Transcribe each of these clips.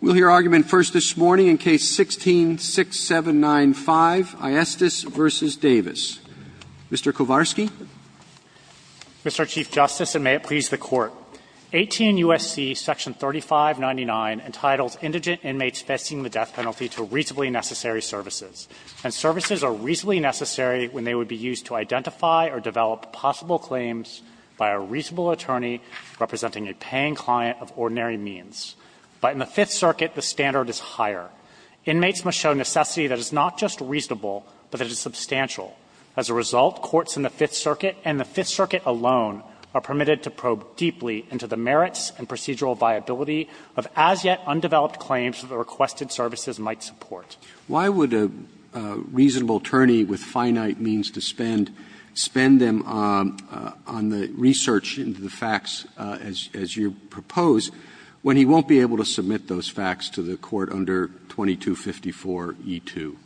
We'll hear argument first this morning in Case 16-6795, Ayestas v. Davis. Mr. Kowarski. Mr. Chief Justice, and may it please the Court, 18 U.S.C. Section 3599 entitles indigent inmates facing the death penalty to reasonably necessary services. And services are reasonably necessary when they would be used to identify or develop possible claims by a reasonable attorney representing a paying client of ordinary means. But in the Fifth Circuit, the standard is higher. Inmates must show necessity that is not just reasonable, but that is substantial. As a result, courts in the Fifth Circuit and the Fifth Circuit alone are permitted to probe deeply into the merits and procedural viability of as-yet-undeveloped claims that the requested services might support. Roberts. Why would a reasonable attorney with finite means to spend spend them on the research into the facts, as you propose, when he won't be able to submit those facts to the Court under 2254e2?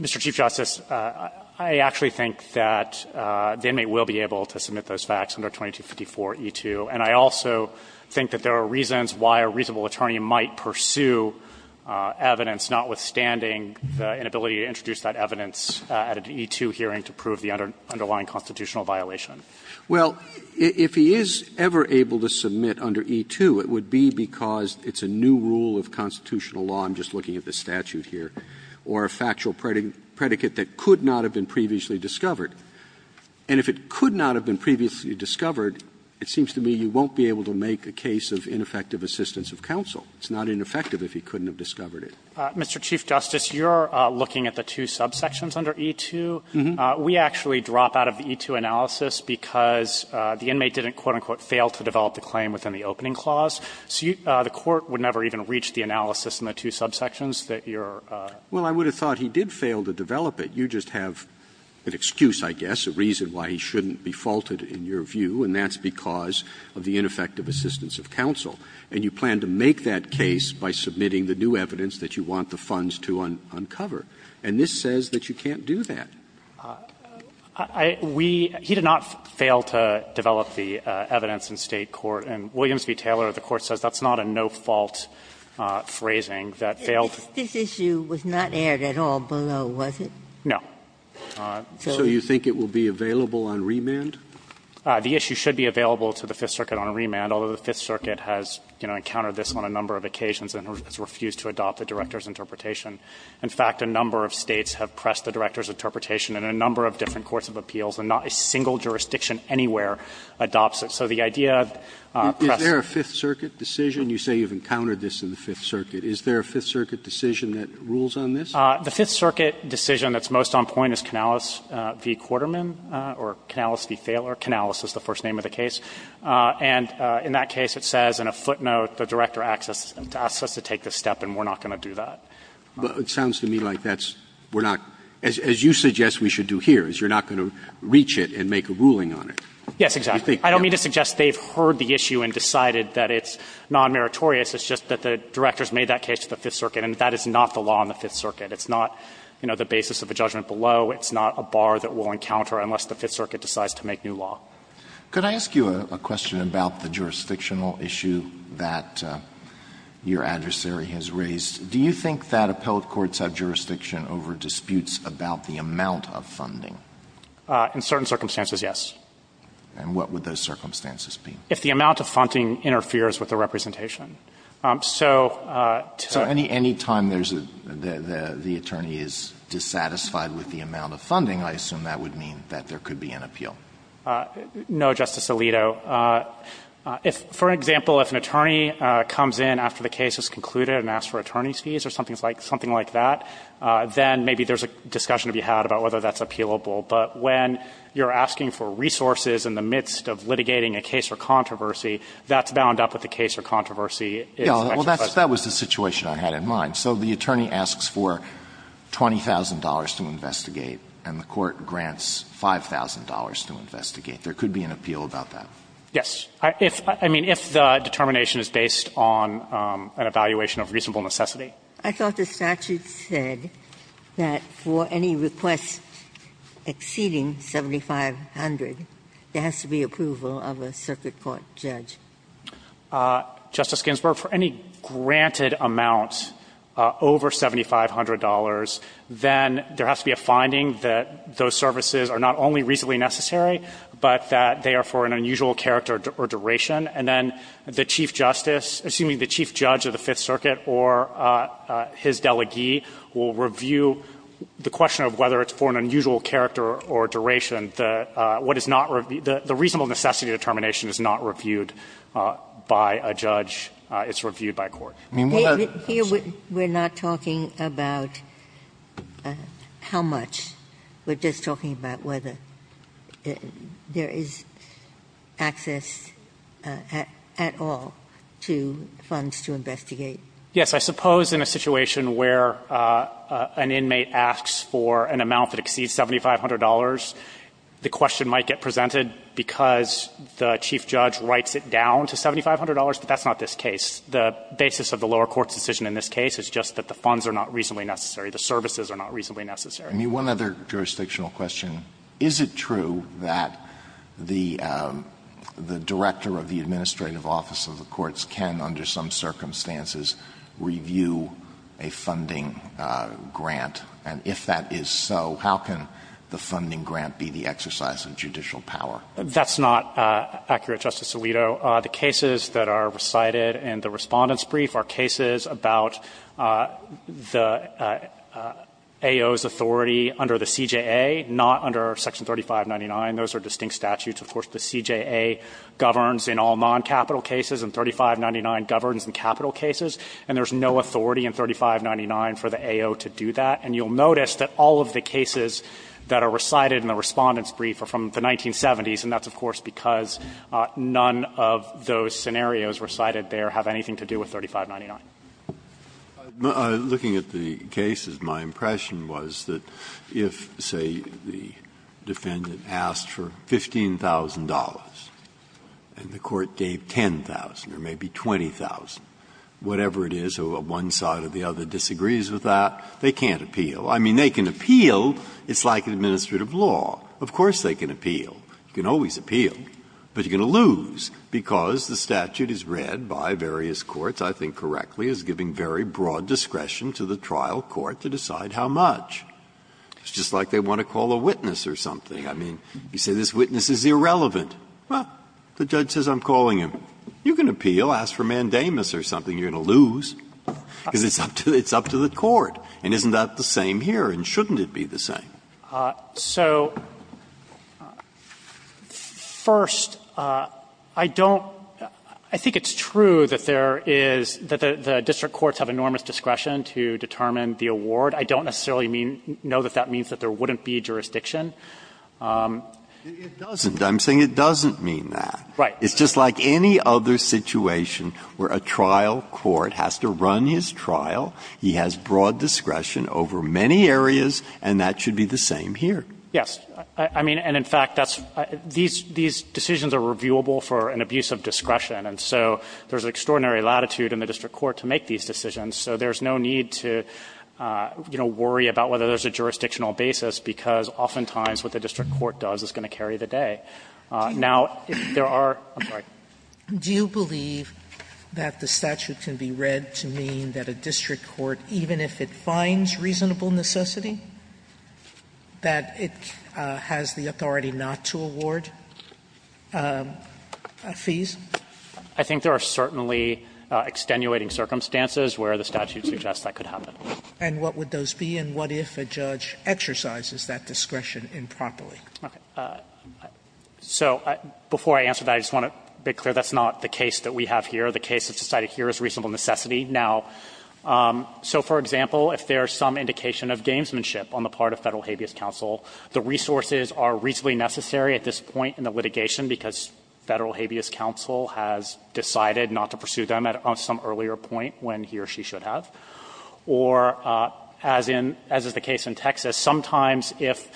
Mr. Chief Justice, I actually think that the inmate will be able to submit those facts under 2254e2, and I also think that there are reasons why a reasonable attorney might pursue evidence notwithstanding the inability to introduce that evidence at an e2 hearing to prove the underlying constitutional violation. Well, if he is ever able to submit under e2, it would be because it's a new rule of constitutional law, I'm just looking at the statute here, or a factual predicate that could not have been previously discovered. And if it could not have been previously discovered, it seems to me you won't be able to make a case of ineffective assistance of counsel. It's not ineffective if he couldn't have discovered it. Mr. Chief Justice, you're looking at the two subsections under e2. We actually drop out of the e2 analysis because the inmate didn't, quote, unquote, fail to develop the claim within the opening clause. So the Court would never even reach the analysis in the two subsections that you're using. Well, I would have thought he did fail to develop it. You just have an excuse, I guess, a reason why he shouldn't be faulted in your view, and that's because of the ineffective assistance of counsel. And you plan to make that case by submitting the new evidence that you want the funds to uncover. And this says that you can't do that. We – he did not fail to develop the evidence in State court. And Williams v. Taylor, the Court says that's not a no-fault phrasing that failed to do that. This issue was not aired at all below, was it? No. So you think it will be available on remand? The issue should be available to the Fifth Circuit on remand, although the Fifth Circuit has, you know, encountered this on a number of occasions and has refused to adopt the Director's interpretation. In fact, a number of States have pressed the Director's interpretation and a number of different courts of appeals, and not a single jurisdiction anywhere adopts it. So the idea of press – Is there a Fifth Circuit decision? You say you've encountered this in the Fifth Circuit. Is there a Fifth Circuit decision that rules on this? The Fifth Circuit decision that's most on point is Canales v. Quarterman or Canales v. Thaler. Canales is the first name of the case. And in that case, it says in a footnote, the Director asks us to take this step, and we're not going to do that. But it sounds to me like that's – we're not – as you suggest we should do here, is you're not going to reach it and make a ruling on it. Yes, exactly. I don't mean to suggest they've heard the issue and decided that it's non-meritorious. It's just that the Director's made that case to the Fifth Circuit, and that is not the law in the Fifth Circuit. It's not, you know, the basis of a judgment below. It's not a bar that we'll encounter unless the Fifth Circuit decides to make new law. Could I ask you a question about the jurisdictional issue that your adversary has raised? Do you think that appellate courts have jurisdiction over disputes about the amount of funding? In certain circumstances, yes. And what would those circumstances be? If the amount of funding interferes with the representation. So to – So any time there's a – the attorney is dissatisfied with the amount of funding, I assume that would mean that there could be an appeal. No, Justice Alito. If, for example, if an attorney comes in after the case is concluded and asks for attorney's fees or something like that, then maybe there's a discussion to be had about whether that's appealable. But when you're asking for resources in the midst of litigating a case or controversy, that's bound up with the case or controversy. Well, that was the situation I had in mind. So the attorney asks for $20,000 to investigate, and the Court grants $5,000 to investigate. There could be an appeal about that. Yes. I mean, if the determination is based on an evaluation of reasonable necessity. I thought the statute said that for any request exceeding $7,500, there has to be approval of a circuit court judge. Justice Ginsburg, for any granted amount over $7,500, then there has to be a finding that those services are not only reasonably necessary, but that they are for an unusual character or duration. And then the Chief Justice, assuming the Chief Judge of the Fifth Circuit or his delegee will review the question of whether it's for an unusual character or duration. The reasonable necessity determination is not reviewed by a judge. It's reviewed by a court. I mean, what are the consequences? We're not talking about how much. We're just talking about whether there is access at all to funds to investigate. Yes. I suppose in a situation where an inmate asks for an amount that exceeds $7,500, the question might get presented because the Chief Judge writes it down to $7,500, but that's not this case. The basis of the lower court's decision in this case is just that the funds are not reasonably necessary, the services are not reasonably necessary. Alito, one other jurisdictional question. Is it true that the Director of the Administrative Office of the Courts can, under some circumstances, review a funding grant? And if that is so, how can the funding grant be the exercise of judicial power? That's not accurate, Justice Alito. So the cases that are recited in the Respondent's Brief are cases about the AO's authority under the CJA, not under Section 3599. Those are distinct statutes. Of course, the CJA governs in all non-capital cases, and 3599 governs in capital cases, and there's no authority in 3599 for the AO to do that. And you'll notice that all of the cases that are recited in the Respondent's Brief, none of those scenarios recited there have anything to do with 3599. Breyer, looking at the cases, my impression was that if, say, the defendant asked for $15,000 and the court gave $10,000 or maybe $20,000, whatever it is, or one side or the other disagrees with that, they can't appeal. I mean, they can appeal. It's like an administrative law. Of course they can appeal. You can always appeal, but you're going to lose because the statute is read by various courts, I think correctly, as giving very broad discretion to the trial court to decide how much. It's just like they want to call a witness or something. I mean, you say this witness is irrelevant. Well, the judge says I'm calling him. You can appeal, ask for mandamus or something, you're going to lose, because it's up to the court. And isn't that the same here, and shouldn't it be the same? So, first, I don't – I think it's true that there is – that the district courts have enormous discretion to determine the award. I don't necessarily mean – know that that means that there wouldn't be jurisdiction. Breyer, it doesn't. I'm saying it doesn't mean that. Right. It's just like any other situation where a trial court has to run his trial. He has broad discretion over many areas, and that should be the same here. Yes. I mean, and in fact, that's – these decisions are reviewable for an abuse of discretion. And so there's extraordinary latitude in the district court to make these decisions. So there's no need to, you know, worry about whether there's a jurisdictional basis, because oftentimes what the district court does is going to carry the day. Now, there are – I'm sorry. Do you believe that the statute can be read to mean that a district court, even if it finds reasonable necessity, that it has the authority not to award fees? I think there are certainly extenuating circumstances where the statute suggests that could happen. And what would those be, and what if a judge exercises that discretion improperly? Okay. So before I answer that, I just want to be clear. That's not the case that we have here. The case that's decided here is reasonable necessity. Now, so for example, if there's some indication of gamesmanship on the part of Federal Habeas Counsel, the resources are reasonably necessary at this point in the litigation, because Federal Habeas Counsel has decided not to pursue them at some earlier point when he or she should have. Or as in – as is the case in Texas, sometimes if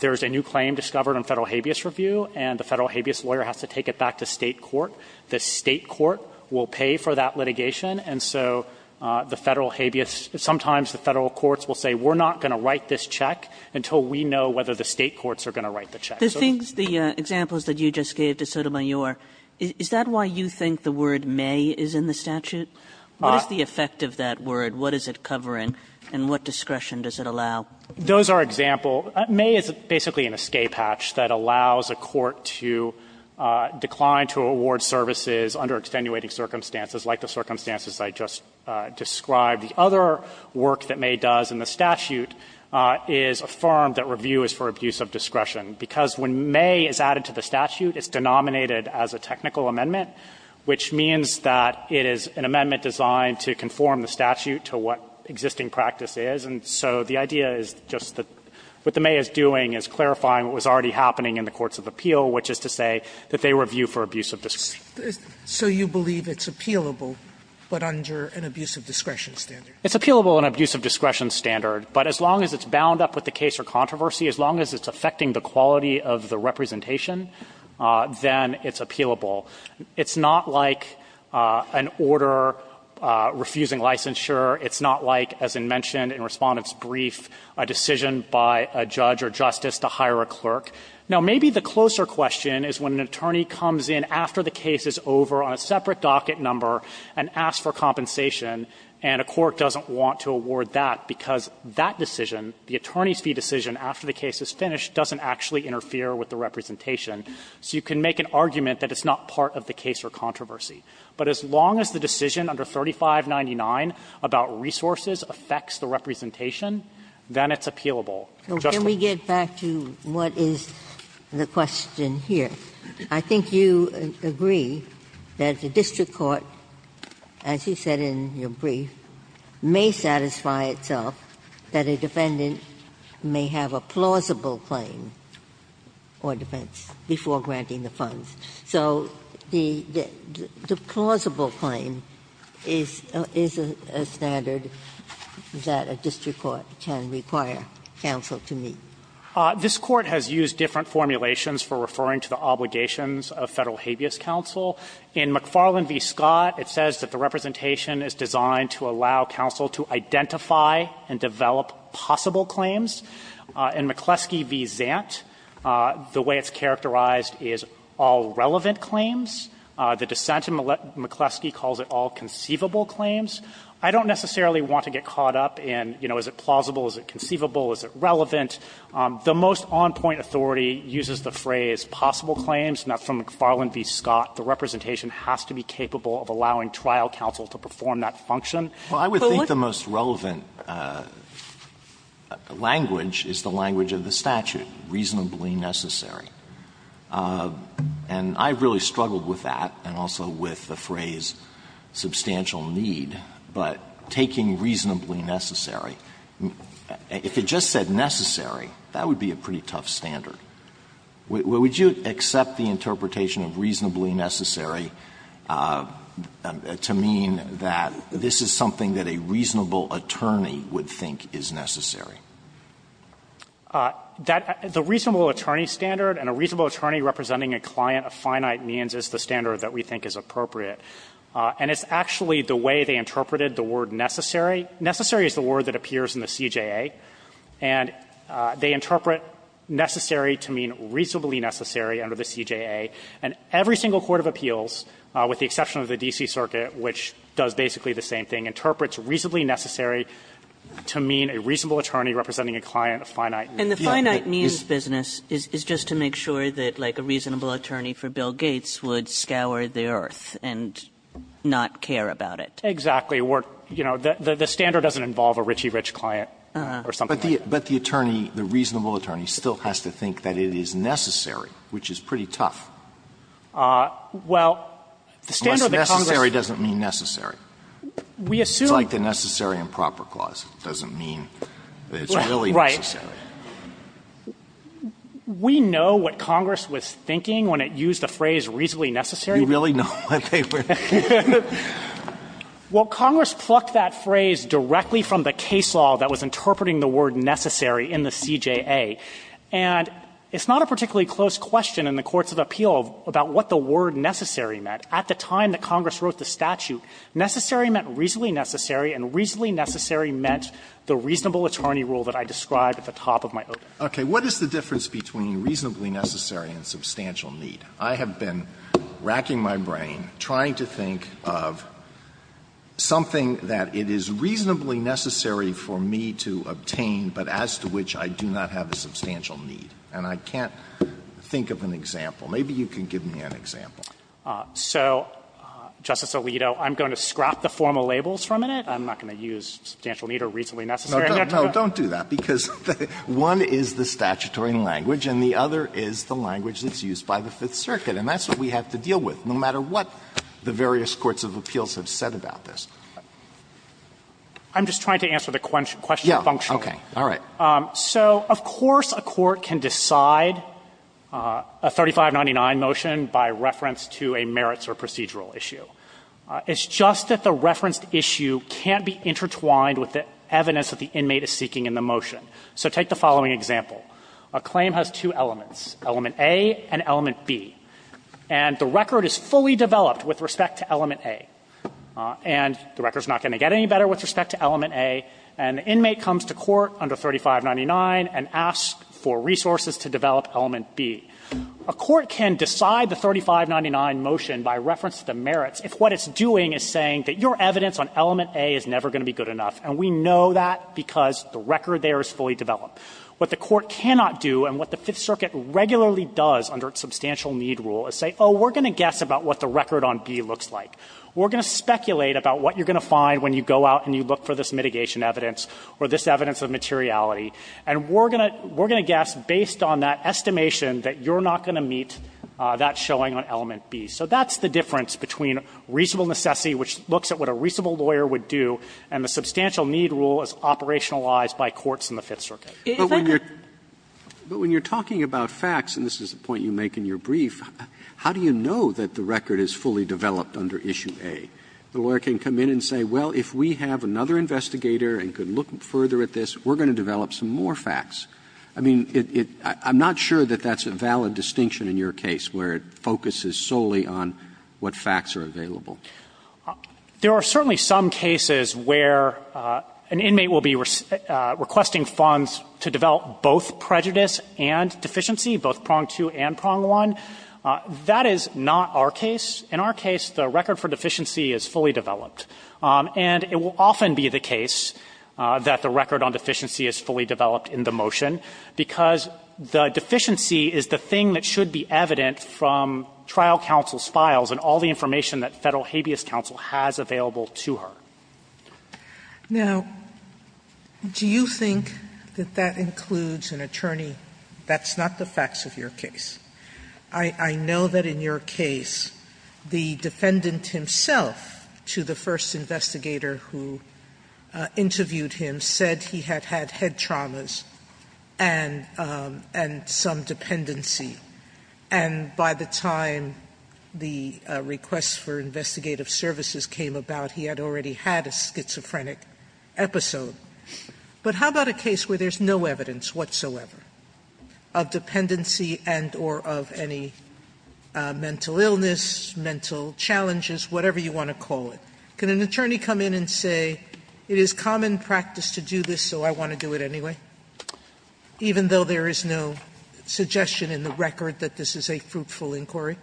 there's a new claim discovered on Federal Habeas Review and the Federal Habeas lawyer has to take it back to State court, the State court will pay for that litigation. And so the Federal Habeas – sometimes the Federal courts will say, we're not going to write this check until we know whether the State courts are going to write the So this is the case that we have here. The things – the examples that you just gave to Sotomayor, is that why you think the word may is in the statute? What is the effect of that word? What is it covering, and what discretion does it allow? Those are example – may is basically an escape hatch that allows a court to decline to award services under extenuating circumstances like the circumstances I just described. The other work that may does in the statute is affirm that review is for abuse of discretion, because when may is added to the statute, it's denominated as a technical amendment, which means that it is an amendment designed to conform the statute to what existing practice is. And so the idea is just that what the may is doing is clarifying what was already happening in the courts of appeal, which is to say that they review for abuse of discretion. So you believe it's appealable, but under an abuse of discretion standard? It's appealable under an abuse of discretion standard, but as long as it's bound up with the case or controversy, as long as it's affecting the quality of the representation, then it's appealable. It's not like an order refusing licensure. It's not like, as I mentioned in Respondent's brief, a decision by a judge or justice to hire a clerk. Now, maybe the closer question is when an attorney comes in after the case is over on a separate docket number and asks for compensation, and a court doesn't want to award that, because that decision, the attorney's fee decision after the case is finished, doesn't actually interfere with the representation. So you can make an argument that it's not part of the case or controversy. But as long as the decision under 3599 about resources affects the representation, then it's appealable. Justice Ginsburg. Ginsburg. Ginsburg. Ginsburg. Can we get back to what is the question here? I think you agree that the district court, as you said in your brief, may satisfy itself that a defendant may have a plausible claim or defense before granting the funds. So the plausible claim is a standard that a district court can require counsel to meet. This Court has used different formulations for referring to the obligations of Federal habeas counsel. In McFarland v. Scott, it says that the representation is designed to allow counsel to identify and develop possible claims. In McCleskey v. Zant, the way it's characterized is all relevant claims. The dissent in McCleskey calls it all conceivable claims. I don't necessarily want to get caught up in, you know, is it plausible, is it conceivable, is it relevant. The most on-point authority uses the phrase possible claims, and that's from McFarland v. Scott. The representation has to be capable of allowing trial counsel to perform that function. Alito, what do you think? Alito, I would think the most relevant language is the language of the statute, reasonably necessary. And I really struggled with that and also with the phrase substantial need, but taking reasonably necessary. If it just said necessary, that would be a pretty tough standard. Would you accept the interpretation of reasonably necessary to mean that this is something that a reasonable attorney would think is necessary? That the reasonable attorney standard and a reasonable attorney representing a client of finite means is the standard that we think is appropriate. And it's actually the way they interpreted the word necessary. Necessary is the word that appears in the CJA, and they interpret necessary to mean reasonably necessary under the CJA. And every single court of appeals, with the exception of the D.C. Circuit, which does basically the same thing, interprets reasonably necessary to mean a reasonable attorney representing a client of finite means. Kagan. And the finite means business is just to make sure that, like, a reasonable attorney for Bill Gates would scour the earth and not care about it. Exactly. Or, you know, the standard doesn't involve a richy-rich client or something like that. But the attorney, the reasonable attorney, still has to think that it is necessary, which is pretty tough. Well, the standard that Congress uses. It doesn't mean necessary. We assume. It's like the necessary and proper clause. It doesn't mean that it's really necessary. Right. We know what Congress was thinking when it used the phrase reasonably necessary. You really know what they were thinking? Well, Congress plucked that phrase directly from the case law that was interpreting the word necessary in the CJA. And it's not a particularly close question in the courts of appeal about what the word necessary meant. At the time that Congress wrote the statute, necessary meant reasonably necessary, and reasonably necessary meant the reasonable attorney rule that I described at the top of my opening. Okay. What is the difference between reasonably necessary and substantial need? I have been racking my brain trying to think of something that it is reasonably necessary for me to obtain, but as to which I do not have a substantial need. And I can't think of an example. Maybe you can give me an example. So, Justice Alito, I'm going to scrap the formal labels from it. I'm not going to use substantial need or reasonably necessary. No, don't do that, because one is the statutory language and the other is the language that's used by the Fifth Circuit. And that's what we have to deal with, no matter what the various courts of appeals have said about this. I'm just trying to answer the question functionally. Okay. All right. So, of course, a court can decide a 3599 motion by reference to a merits or procedural issue. It's just that the referenced issue can't be intertwined with the evidence that the inmate is seeking in the motion. So take the following example. A claim has two elements, element A and element B. And the record is fully developed with respect to element A. And the record is not going to get any better with respect to element A. And the inmate comes to court under 3599 and asks for resources to develop element B. A court can decide the 3599 motion by reference to the merits if what it's doing is saying that your evidence on element A is never going to be good enough. And we know that because the record there is fully developed. What the court cannot do and what the Fifth Circuit regularly does under substantial need rule is say, oh, we're going to guess about what the record on B looks like. We're going to speculate about what you're going to find when you go out and you look for this mitigation evidence or this evidence of materiality. And we're going to guess based on that estimation that you're not going to meet that showing on element B. So that's the difference between reasonable necessity, which looks at what a reasonable lawyer would do, and the substantial need rule is operationalized by courts in the Fifth Circuit. If I could. But when you're talking about facts, and this is the point you make in your brief, how do you know that the record is fully developed under issue A? The lawyer can come in and say, well, if we have another investigator and could look further at this, we're going to develop some more facts. I mean, it – I'm not sure that that's a valid distinction in your case, where it focuses solely on what facts are available. There are certainly some cases where an inmate will be requesting funds to develop both prejudice and deficiency, both prong 2 and prong 1. That is not our case. In our case, the record for deficiency is fully developed. And it will often be the case that the record on deficiency is fully developed in the motion, because the deficiency is the thing that should be evident from trial counsel's files and all the information that Federal Habeas Counsel has available to her. Sotomayor, do you think that that includes an attorney that's not the facts of your case? I know that in your case, the defendant himself, to the first investigator who interviewed him, said he had had head traumas and some dependency. And by the time the request for investigative services came about, he had already had a schizophrenic episode. But how about a case where there's no evidence whatsoever of dependency and or of any mental illness, mental challenges, whatever you want to call it? Can an attorney come in and say, it is common practice to do this, so I want to do it anyway, even though there is no suggestion in the record that this is a fruitful inquiry?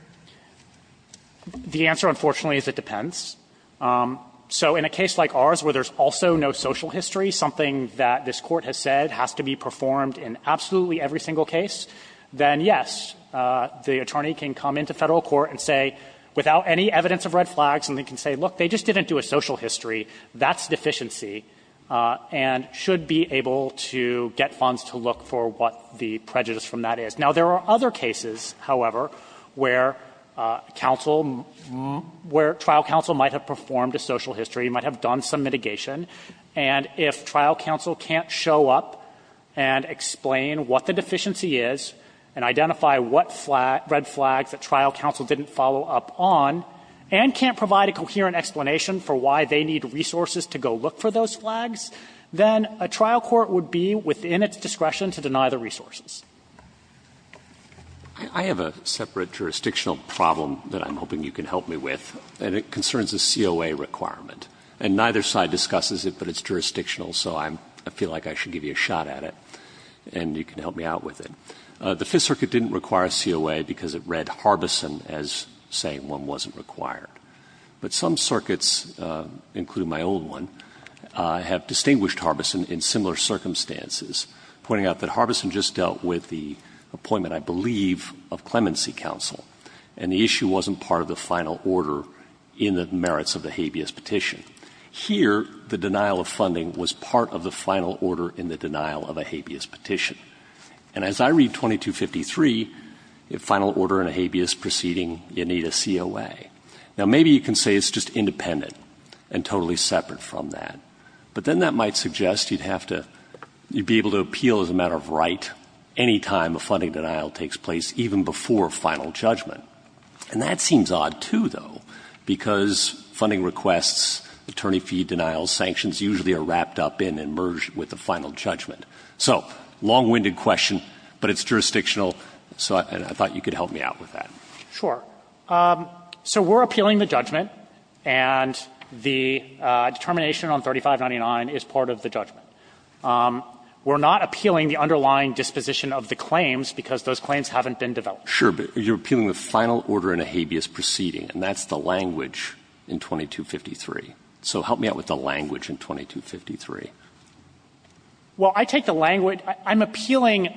The answer, unfortunately, is it depends. So in a case like ours where there's also no social history, something that this Court has said has to be performed in absolutely every single case, then, yes, the attorney can come into Federal court and say, without any evidence of red flags, and they can say, look, they just didn't do a social history, that's deficiency, and should be able to get funds to look for what the prejudice from that is. Now, there are other cases, however, where trial counsel might have performed a social history, might have done some mitigation, and if trial counsel can't show up and explain what the deficiency is and identify what red flags that trial counsel didn't follow up on and can't provide a coherent explanation for why they need resources to go look for those flags, then a trial court would be within its discretion to deny the resources. I have a separate jurisdictional problem that I'm hoping you can help me with, and it concerns a COA requirement. And neither side discusses it, but it's jurisdictional, so I feel like I should give you a shot at it, and you can help me out with it. The Fifth Circuit didn't require a COA because it read Harbison as saying one wasn't required. But some circuits, including my own one, have distinguished Harbison in similar circumstances, pointing out that Harbison just dealt with the appointment, I believe, of clemency counsel, and the issue wasn't part of the final order in the merits of the habeas petition. Here, the denial of funding was part of the final order in the denial of a habeas petition. And as I read 2253, the final order in a habeas proceeding, you need a COA. Now, maybe you can say it's just independent and totally separate from that. But then that might suggest you'd have to be able to appeal as a matter of right any time a funding denial takes place, even before final judgment. And that seems odd, too, though, because funding requests, attorney fee denials, sanctions usually are wrapped up in and merged with the final judgment. So long-winded question, but it's jurisdictional, so I thought you could help me out with that. Sure. So we're appealing the judgment, and the determination on 3599 is part of the judgment. We're not appealing the underlying disposition of the claims because those claims haven't been developed. Sure, but you're appealing the final order in a habeas proceeding, and that's the language in 2253. So help me out with the language in 2253. Well, I take the language – I'm appealing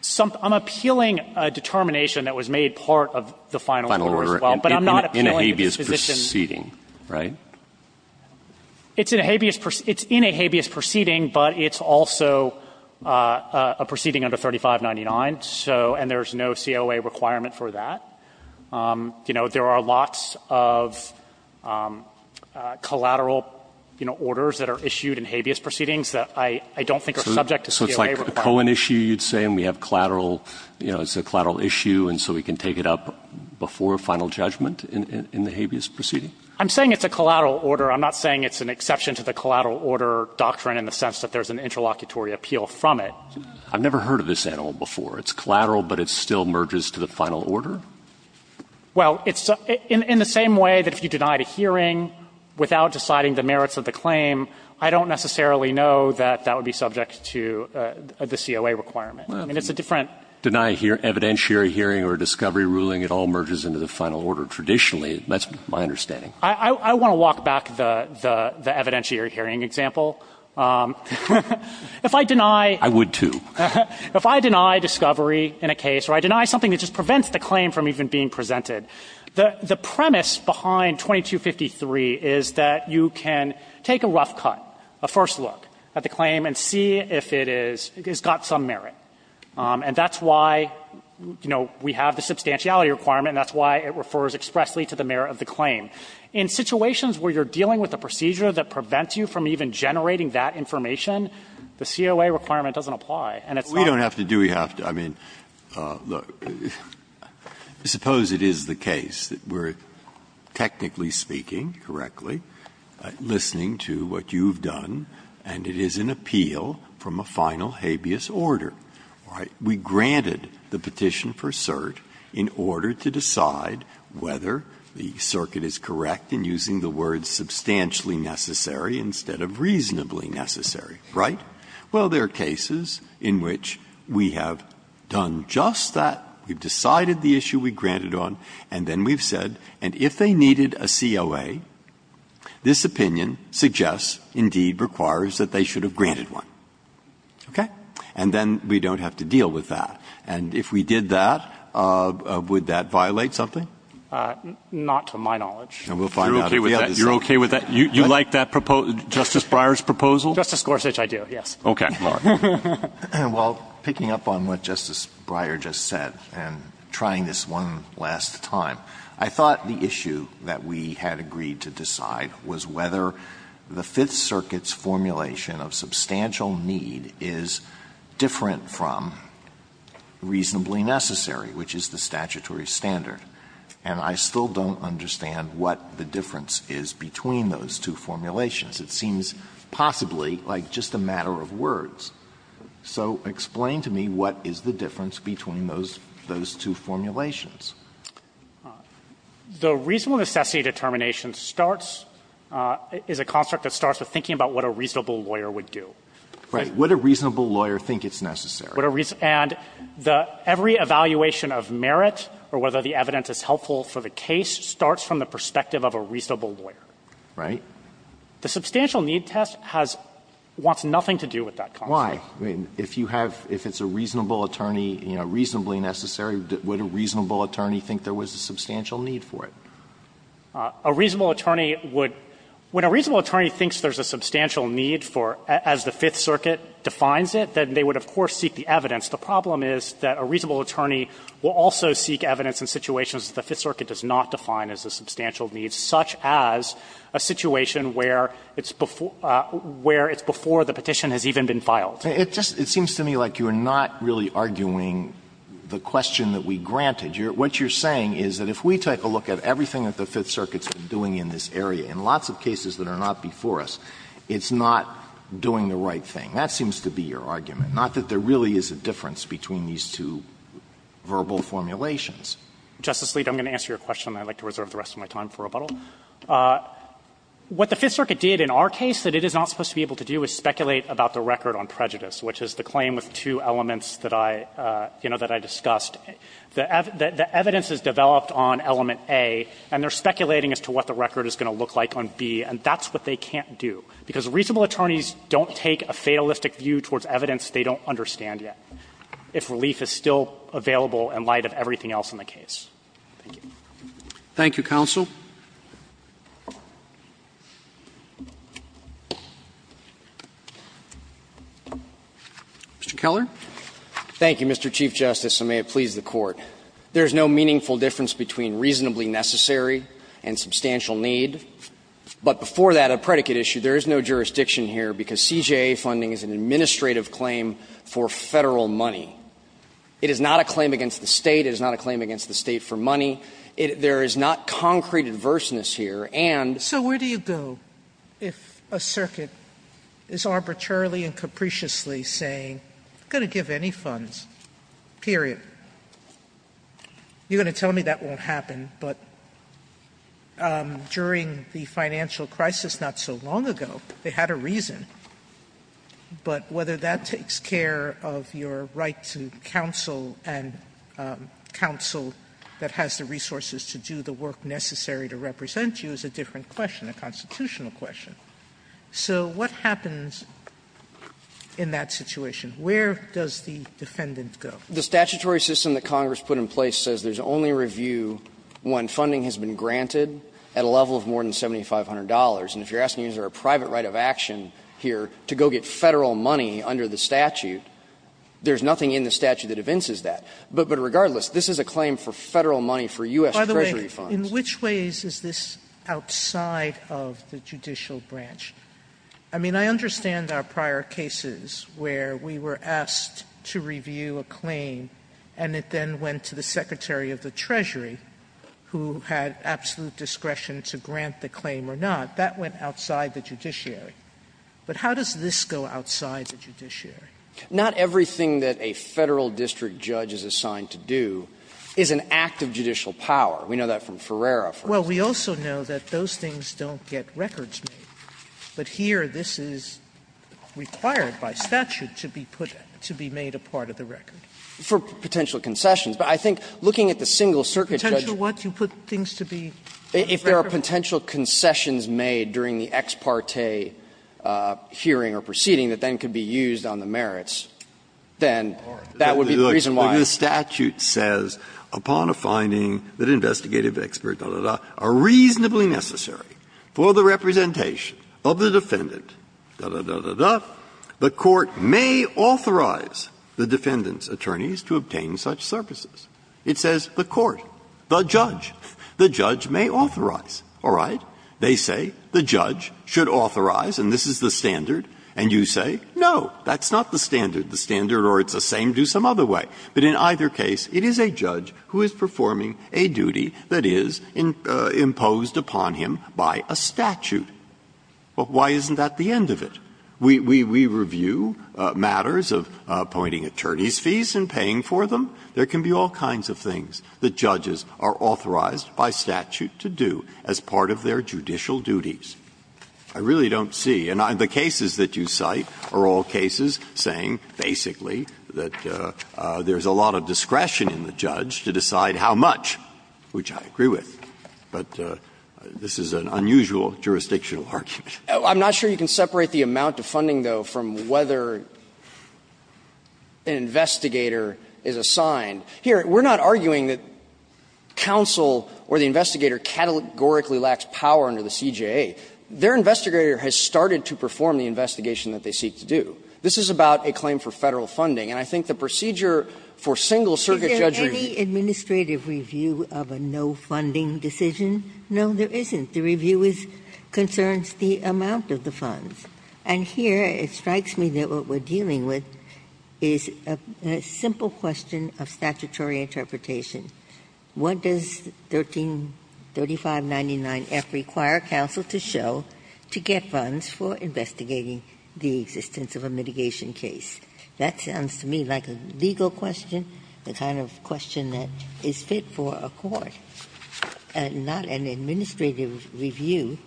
some – I'm appealing a determination that was made part of the final order as well, but I'm not appealing the disposition. In a habeas proceeding, right? It's in a habeas – it's in a habeas proceeding, but it's also a proceeding under 3599, so – and there's no COA requirement for that. You know, there are lots of collateral, you know, orders that are issued in habeas proceedings that I don't think are subject to COA requirements. A COAN issue, you'd say, and we have collateral – you know, it's a collateral issue, and so we can take it up before final judgment in the habeas proceeding? I'm saying it's a collateral order. I'm not saying it's an exception to the collateral order doctrine in the sense that there's an interlocutory appeal from it. I've never heard of this animal before. It's collateral, but it still merges to the final order? Well, it's – in the same way that if you denied a hearing without deciding the merits of the claim, I don't necessarily know that that would be subject to the COA requirement. I mean, it's a different – Deny evidentiary hearing or a discovery ruling, it all merges into the final order. Traditionally, that's my understanding. I want to walk back the evidentiary hearing example. If I deny – I would, too. If I deny discovery in a case or I deny something that just prevents the claim from even being presented, the premise behind 2253 is that you can take a rough cut, a first look at the claim, and see if it is – it's got some merit. And that's why, you know, we have the substantiality requirement, and that's why it refers expressly to the merit of the claim. In situations where you're dealing with a procedure that prevents you from even generating that information, the COA requirement doesn't apply, and it's not – I mean, look, suppose it is the case that we're technically speaking correctly, listening to what you've done, and it is an appeal from a final habeas order, right? We granted the petition for cert in order to decide whether the circuit is correct in using the words »substantially necessary« instead of »reasonably necessary«, right? Well, there are cases in which we have done just that, we've decided the issue we granted on, and then we've said, and if they needed a COA, this opinion suggests, indeed, requires that they should have granted one. Okay? And then we don't have to deal with that. And if we did that, would that violate something? Fisherman, not to my knowledge. Breyer, you're okay with that? You like that Justice Breyer's proposal? Fisherman, Justice Gorsuch, I do, yes. Okay. All right. Well, picking up on what Justice Breyer just said, and trying this one last time, I thought the issue that we had agreed to decide was whether the Fifth Circuit's formulation of »substantial need« is different from »reasonably necessary«, which is the statutory standard. And I still don't understand what the difference is between those two formulations. It seems possibly like just a matter of words. So explain to me what is the difference between those two formulations. The reasonable necessity determination starts — is a construct that starts with thinking about what a reasonable lawyer would do. Right. Would a reasonable lawyer think it's necessary? And every evaluation of merit or whether the evidence is helpful for the case starts from the perspective of a reasonable lawyer. Right. The substantial need test has — wants nothing to do with that construct. Why? I mean, if you have — if it's a reasonable attorney, you know, reasonably necessary, would a reasonable attorney think there was a substantial need for it? A reasonable attorney would — when a reasonable attorney thinks there's a substantial need for — as the Fifth Circuit defines it, then they would, of course, seek the evidence. The problem is that a reasonable attorney will also seek evidence in situations that the Fifth Circuit does not define as a substantial need, such as a situation where it's before — where it's before the petition has even been filed. It just — it seems to me like you're not really arguing the question that we granted. What you're saying is that if we take a look at everything that the Fifth Circuit's been doing in this area, in lots of cases that are not before us, it's not doing the right thing. That seems to be your argument, not that there really is a difference between these two verbal formulations. Justice Sleet, I'm going to answer your question, and I'd like to reserve the rest of my time for rebuttal. What the Fifth Circuit did in our case that it is not supposed to be able to do is speculate about the record on prejudice, which is the claim with two elements that I — you know, that I discussed. The evidence is developed on element A, and they're speculating as to what the record is going to look like on B, and that's what they can't do, because reasonable attorneys don't take a fatalistic view towards evidence they don't understand yet. If relief is still available in light of everything else in the case. Roberts, Thank you, counsel. Mr. Keller. Keller, Thank you, Mr. Chief Justice, and may it please the Court. There is no meaningful difference between reasonably necessary and substantial need. But before that, a predicate issue, there is no jurisdiction here, because CJA funding is an administrative claim for Federal money. It is not a claim against the State. It is not a claim against the State for money. There is not concrete adverseness here. And so where do you go if a circuit is arbitrarily and capriciously saying, I'm going to give any funds, period. You're going to tell me that won't happen, but during the financial crisis not so long ago, they had a reason. But whether that takes care of your right to counsel and counsel that has the resources to do the work necessary to represent you is a different question, a constitutional question. So what happens in that situation? Where does the defendant go? Keller, The statutory system that Congress put in place says there is only review when funding has been granted at a level of more than $7,500. And if you're asking, is there a private right of action here to go get Federal money under the statute, there is nothing in the statute that evinces that. But regardless, this is a claim for Federal money for U.S. Treasury funds. Sotomayor, By the way, in which ways is this outside of the judicial branch? I mean, I understand our prior cases where we were asked to review a claim, and it then went to the Secretary of the Treasury, who had absolute discretion to grant the claim or not. That went outside the judiciary. But how does this go outside the judiciary? Keller, Not everything that a Federal district judge is assigned to do is an act of judicial power. We know that from Ferreira, for instance. Sotomayor, Well, we also know that those things don't get records made. But here, this is required by statute to be put to be made a part of the record. Keller, For potential concessions. But I think looking at the single circuit judge. Sotomayor, Potential what? You put things to be on the record? If there are potential concessions made during the ex parte hearing or proceeding that then could be used on the merits, then that would be the reason why. Breyer, The statute says, upon a finding that investigative experts, da, da, da, are reasonably necessary for the representation of the defendant, da, da, da, da, the court may authorize the defendant's attorneys to obtain such services. It says the court, the judge, the judge may authorize. All right? They say the judge should authorize, and this is the standard, and you say, no, that's not the standard. The standard or it's the same, do some other way. But in either case, it is a judge who is performing a duty that is imposed upon him by a statute. Why isn't that the end of it? We review matters of appointing attorney's fees and paying for them. There can be all kinds of things that judges are authorized by statute to do as part of their judicial duties. I really don't see, and the cases that you cite are all cases saying basically that there is a lot of discretion in the judge to decide how much, which I agree with, but this is an unusual jurisdictional argument. I'm not sure you can separate the amount of funding, though, from whether an investigator is assigned. Here, we're not arguing that counsel or the investigator categorically lacks power under the CJA. Their investigator has started to perform the investigation that they seek to do. This is about a claim for Federal funding, and I think the procedure for single circuit judge review. Ginsburg. Is there any administrative review of a no-funding decision? No, there isn't. The review is concerns the amount of the funds. And here, it strikes me that what we're dealing with is a simple question of statutory interpretation. What does 133599F require counsel to show to get funds for investigating the existence of a mitigation case? That sounds to me like a legal question, the kind of question that is fit for a court, not an administrative review.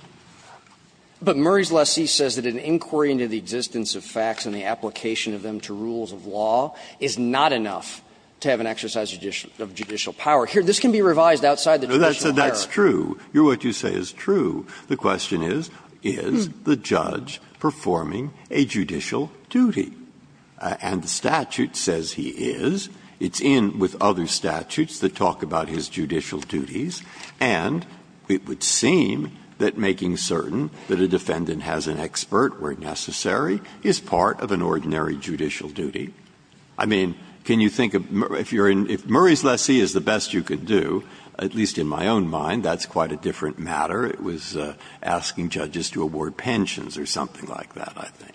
But Murray's lessee says that an inquiry into the existence of facts and the application of them to rules of law is not enough to have an exercise of judicial power. Here, this can be revised outside the judicial hierarchy. Breyer. That's true. What you say is true. The question is, is the judge performing a judicial duty? And the statute says he is. It's in with other statutes that talk about his judicial duties, and it would seem that making certain that a defendant has an expert where necessary is part of an ordinary judicial duty. I mean, can you think of Murray's lessee is the best you could do, at least in my own mind, that's quite a different matter. It was asking judges to award pensions or something like that, I think.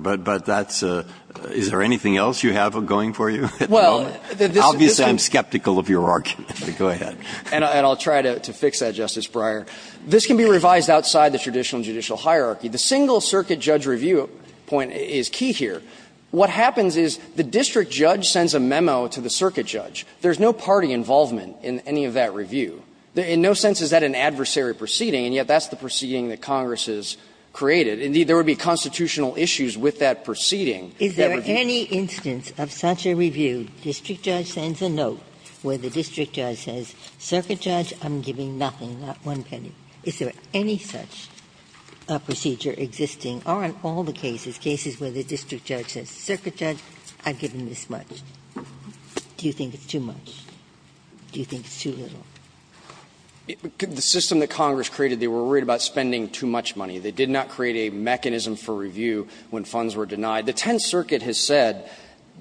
But that's a – is there anything else you have going for you at the moment? Obviously, I'm skeptical of your argument, but go ahead. And I'll try to fix that, Justice Breyer. This can be revised outside the traditional judicial hierarchy. The single circuit judge review point is key here. What happens is the district judge sends a memo to the circuit judge. There's no party involvement in any of that review. In no sense is that an adversary proceeding, and yet that's the proceeding that Congress has created. Indeed, there would be constitutional issues with that proceeding. Ginsburg. Is there any instance of such a review, district judge sends a note where the district judge says, circuit judge, I'm giving nothing. Not one penny. Is there any such procedure existing? Are in all the cases, cases where the district judge says, circuit judge, I've given this much. Do you think it's too much? Do you think it's too little? Burschel, The system that Congress created, they were worried about spending too much money. They did not create a mechanism for review when funds were denied. The Tenth Circuit has said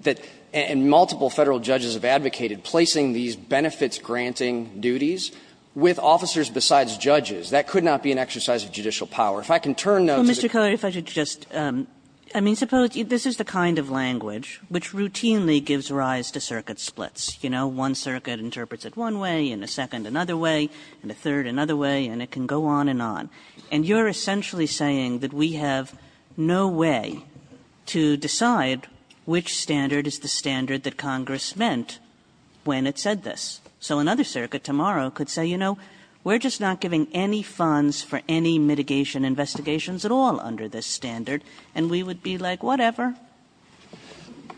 that – and multiple Federal judges have advocated placing these benefits-granting duties with officers besides judges. That could not be an exercise of judicial power. If I can turn now to the – Kagan. Well, Mr. Kelly, if I could just – I mean, suppose – this is the kind of language which routinely gives rise to circuit splits. You know, one circuit interprets it one way, and a second another way, and a third another way, and it can go on and on. And you're essentially saying that we have no way to decide which standard is the standard that Congress meant when it said this. So another circuit tomorrow could say, you know, we're just not giving any funds for any mitigation investigations at all under this standard, and we would be like, whatever.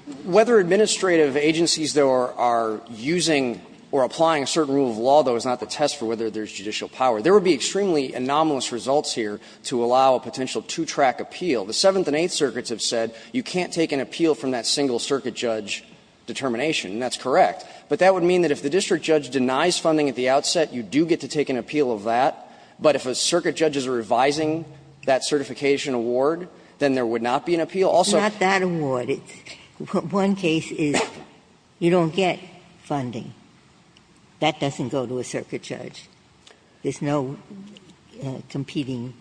Burschel, Whether administrative agencies, though, are using or applying a certain rule of law, though, is not the test for whether there's judicial power. There would be extremely anomalous results here to allow a potential two-track appeal. The Seventh and Eighth Circuits have said you can't take an appeal from that single circuit judge determination, and that's correct. But that would mean that if the district judge denies funding at the outset, you do get to take an appeal of that. But if a circuit judge is revising that certification award, then there would not be an appeal. Also – Ginsburg. It's not that award. It's – one case is you don't get funding. That doesn't go to a circuit judge. There's no competing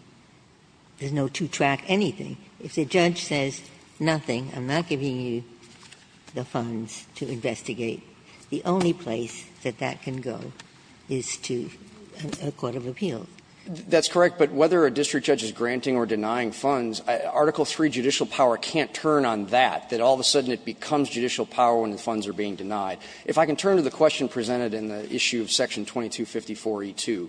– there's no two-track anything. If the judge says nothing, I'm not giving you the funds to investigate, the only place that that can go is to a court of appeals. Burschel, That's correct. But whether a district judge is granting or denying funds, Article III judicial power can't turn on that, that all of a sudden it becomes judicial power when the funds are being denied. If I can turn to the question presented in the issue of Section 2254e2,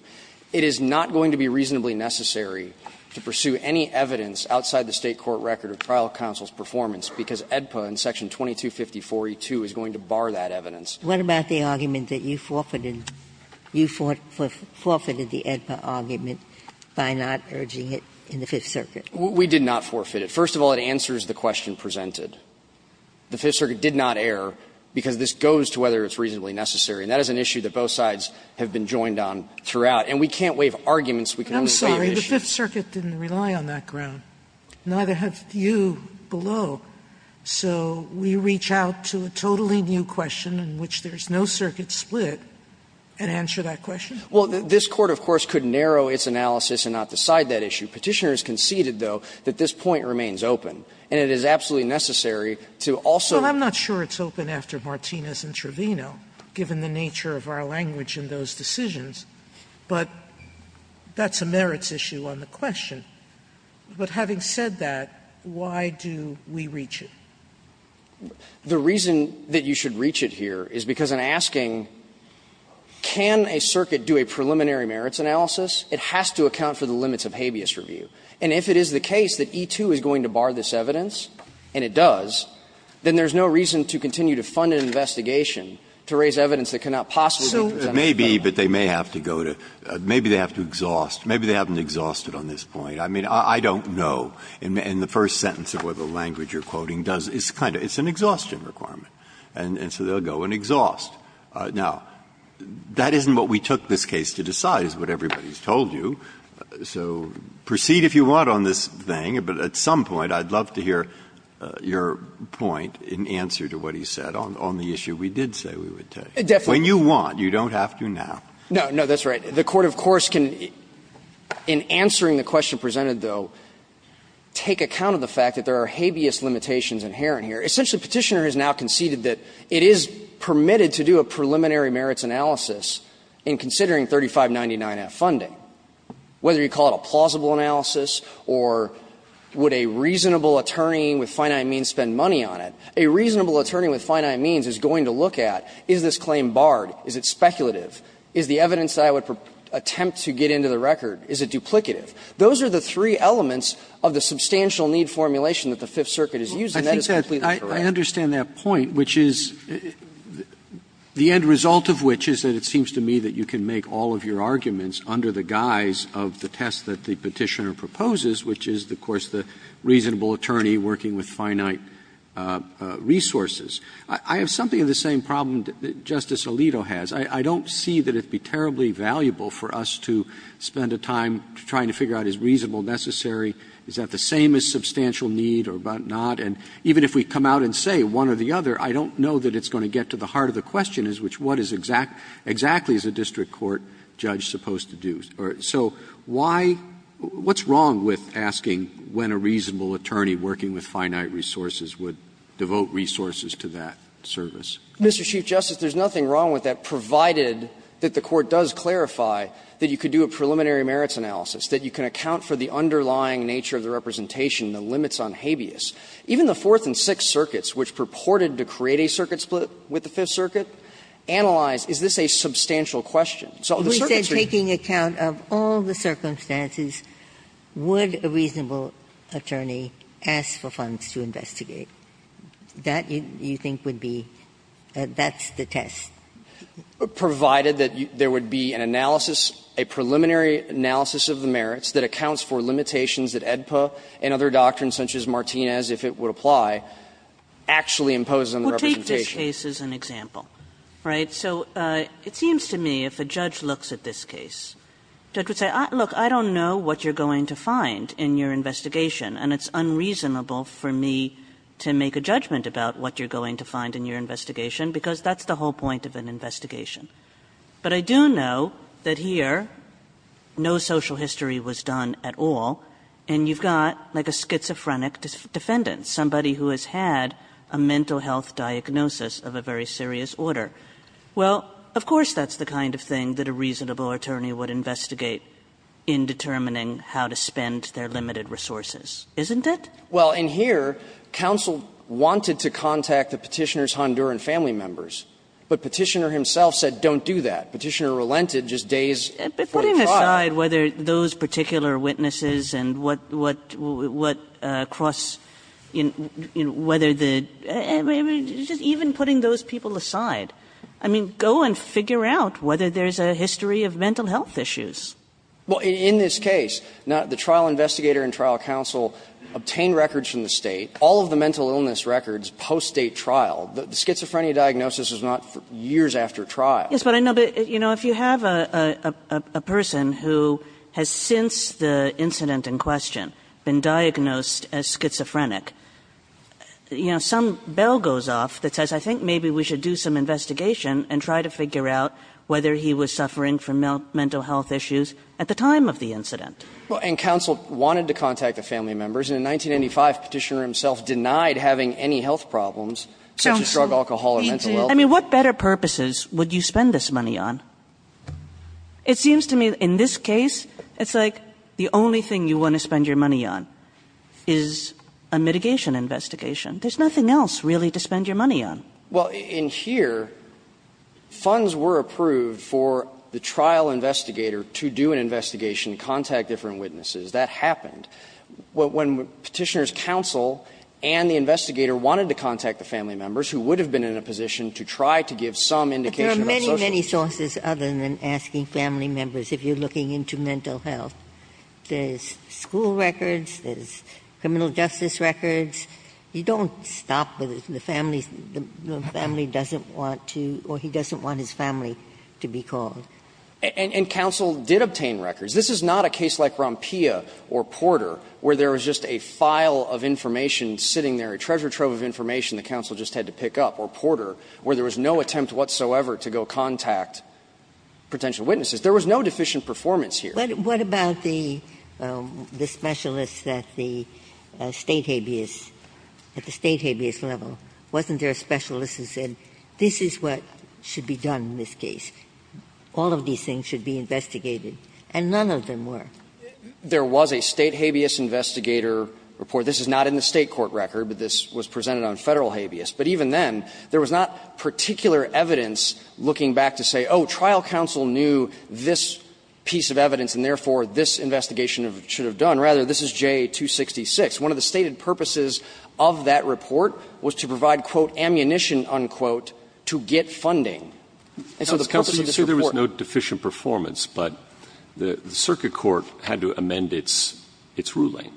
it is not going to be reasonably necessary to pursue any evidence outside the State court record of trial counsel's performance, because AEDPA in Section 2254e2 is going to bar that evidence. What about the argument that you forfeited – you forfeited the AEDPA argument by not urging it in the Fifth Circuit? We did not forfeit it. First of all, it answers the question presented. The Fifth Circuit did not err because this goes to whether it's reasonably necessary, and that is an issue that both sides have been joined on throughout. And we can't waive arguments. We can only waive issues. Sotomayor, I'm sorry. The Fifth Circuit didn't rely on that ground. Neither have you below. So we reach out to a totally new question in which there's no circuit split and answer that question? Well, this Court, of course, could narrow its analysis and not decide that issue. Petitioners conceded, though, that this point remains open. And it is absolutely necessary to also – Well, I'm not sure it's open after Martinez and Trevino, given the nature of our language in those decisions. But that's a merits issue on the question. But having said that, why do we reach it? The reason that you should reach it here is because in asking can a circuit do a preliminary merits analysis, it has to account for the limits of habeas review. And if it is the case that E-2 is going to bar this evidence, and it does, then there's no reason to continue to fund an investigation to raise evidence that cannot possibly be presented to the public. Breyer. Maybe, but they may have to go to – maybe they have to exhaust – maybe they haven't exhausted on this point. I mean, I don't know. In the first sentence of what the language you're quoting does, it's kind of – it's an exhaustion requirement. And so they'll go and exhaust. Now, that isn't what we took this case to decide is what everybody's told you. So proceed if you want on this thing, but at some point I'd love to hear your point in answer to what he said on the issue we did say we would take. Definitely. When you want, you don't have to now. No, no, that's right. The Court, of course, can, in answering the question presented, though, take account of the fact that there are habeas limitations inherent here. Essentially, Petitioner has now conceded that it is permitted to do a preliminary merits analysis in considering 3599-F funding, whether you call it a plausible analysis or would a reasonable attorney with finite means spend money on it. A reasonable attorney with finite means is going to look at is this claim barred, is it speculative, is the evidence that I would attempt to get into the record, is it duplicative. Those are the three elements of the substantial need formulation that the Fifth Circuit has used, and that is completely correct. I understand that point, which is the end result of which is that it seems to me that you can make all of your arguments under the guise of the test that the Petitioner I have something of the same problem that Justice Alito has. I don't see that it would be terribly valuable for us to spend a time trying to figure out is reasonable necessary, is that the same as substantial need or not, and even if we come out and say one or the other, I don't know that it's going to get to the heart of the question, which is what exactly is a district court judge supposed to do. So why — what's wrong with asking when a reasonable attorney working with finite resources would devote resources to that service? Mr. Chief Justice, there's nothing wrong with that, provided that the Court does clarify that you could do a preliminary merits analysis, that you can account for the underlying nature of the representation, the limits on habeas. Even the Fourth and Sixth Circuits, which purported to create a circuit split with the Fifth Circuit, analyzed is this a substantial question. So the circuits are going to be the same. Ginsburg. If a reasonable attorney asked for funds to investigate, that, you think, would be — that's the test. Provided that there would be an analysis, a preliminary analysis of the merits that accounts for limitations that AEDPA and other doctrines such as Martinez, if it would apply, actually impose on the representation. Kagan. Kagan. Kagan. Kagan. Kagan. Kagan. Kagan. Kagan. Kagan. Kagan. Kagan. Kagan. Kagan. Kagan. Kagan. Kagan. And it's unreasonable for me to make a judgment about what you're going to find in your investigation because that's the whole point of an investigation. But I do know that here no social history was done at all and you've got, like, a schizophrenic defendant, somebody who has had a mental health diagnosis of a very serious order. Well, of course that's the kind of thing that a reasonable attorney would investigate in determining how to spend their limited resources, isn't it? Well, in here, counsel wanted to contact the Petitioner's Honduran family members, but Petitioner himself said don't do that. Petitioner relented just days before the trial. But putting aside whether those particular witnesses and what cross, you know, whether the – I mean, just even putting those people aside. I mean, go and figure out whether there's a history of mental health issues. Well, in this case, the trial investigator and trial counsel obtained records from the State, all of the mental illness records post-State trial. The schizophrenia diagnosis is not years after trial. Yes, but I know, but, you know, if you have a person who has since the incident in question been diagnosed as schizophrenic, you know, some bell goes off that says, I think maybe we should do some investigation and try to figure out whether he was diagnosed with mental health issues at the time of the incident. Well, and counsel wanted to contact the family members, and in 1995, Petitioner himself denied having any health problems, such as drug, alcohol, or mental health. I mean, what better purposes would you spend this money on? It seems to me in this case, it's like the only thing you want to spend your money on is a mitigation investigation. There's nothing else, really, to spend your money on. Well, in here, funds were approved for the trial investigator to do an investigation, contact different witnesses. That happened. When Petitioner's counsel and the investigator wanted to contact the family members, who would have been in a position to try to give some indication of social safety. Ginsburg-Gilbert, but there are many, many sources other than asking family members if you're looking into mental health. There's school records, there's criminal justice records. You don't stop with the family's, the family doesn't want to, or he doesn't want his family to be called. And counsel did obtain records. This is not a case like Rompia or Porter, where there was just a file of information sitting there, a treasure trove of information the counsel just had to pick up, or Porter, where there was no attempt whatsoever to go contact potential witnesses. There was no deficient performance here. Ginsburg-Gilbert, what about the specialists at the State habeas, at the State habeas level? Wasn't there a specialist who said, this is what should be done in this case, all of these things should be investigated, and none of them were? There was a State habeas investigator report. This is not in the State court record, but this was presented on Federal habeas. But even then, there was not particular evidence looking back to say, oh, trial counsel knew this piece of evidence, and therefore, this investigation should have done. Rather, this is JA-266. One of the stated purposes of that report was to provide, quote, ammunition, unquote, to get funding. And so the purpose of this report was to provide ammunition, unquote, to get funding. Roberts, you say there was no deficient performance, but the circuit court had to amend its ruling,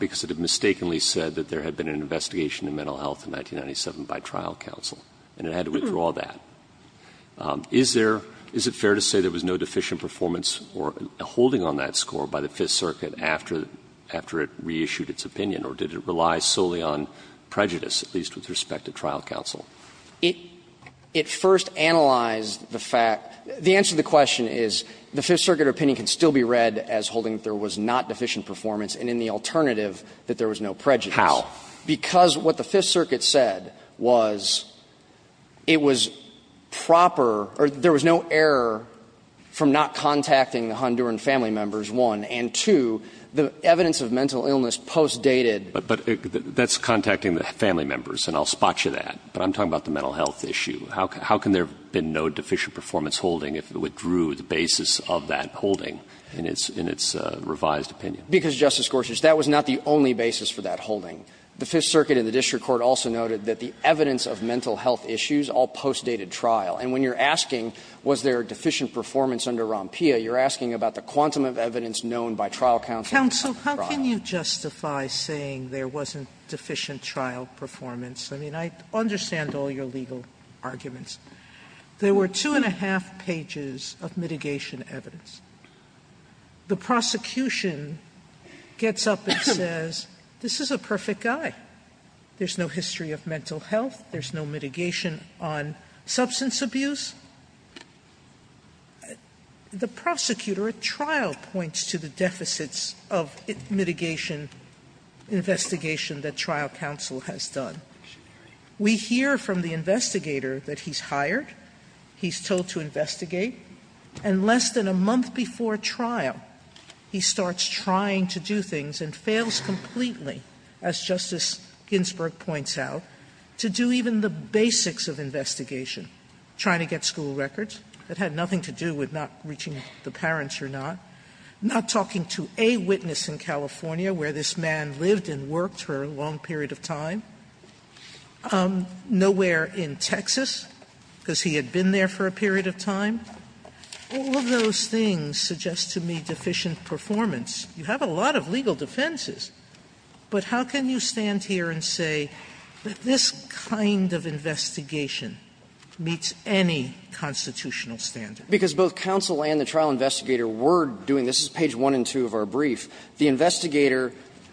because it had mistakenly said that there had been an investigation in mental health in 1997 by trial counsel, and it had to withdraw that. Is there – is it fair to say there was no deficient performance or holding on that score by the Fifth Circuit after it reissued its opinion, or did it rely solely on prejudice, at least with respect to trial counsel? It first analyzed the fact – the answer to the question is, the Fifth Circuit opinion can still be read as holding that there was not deficient performance and in the alternative, that there was no prejudice. How? Because what the Fifth Circuit said was it was proper – or there was no error from not contacting the Honduran family members, one, and two, the evidence of mental illness post-dated. But that's contacting the family members, and I'll spot you that. But I'm talking about the mental health issue. How can there have been no deficient performance holding if it withdrew the basis of that holding in its revised opinion? Because, Justice Gorsuch, that was not the only basis for that holding. The Fifth Circuit in the district court also noted that the evidence of mental health issues all post-dated trial. And when you're asking was there deficient performance under Rompea, you're asking about the quantum of evidence known by trial counsel. Sotomayor, how can you justify saying there wasn't deficient trial performance? I mean, I understand all your legal arguments. There were two and a half pages of mitigation evidence. The prosecution gets up and says, this is a perfect guy. There's no history of mental health. There's no mitigation on substance abuse. The prosecutor at trial points to the deficits of mitigation investigation that trial counsel has done. We hear from the investigator that he's hired. He's told to investigate. And less than a month before trial, he starts trying to do things and fails completely, as Justice Ginsburg points out, to do even the basics of investigation, trying to get school records. It had nothing to do with not reaching the parents or not. Not talking to a witness in California where this man lived and worked for a long period of time. Nowhere in Texas, because he had been there for a period of time. All of those things suggest to me deficient performance. You have a lot of legal defenses, but how can you stand here and say that this kind of investigation meets any constitutional standard? Because both counsel and the trial investigator were doing this. This is page 1 and 2 of our brief. The investigator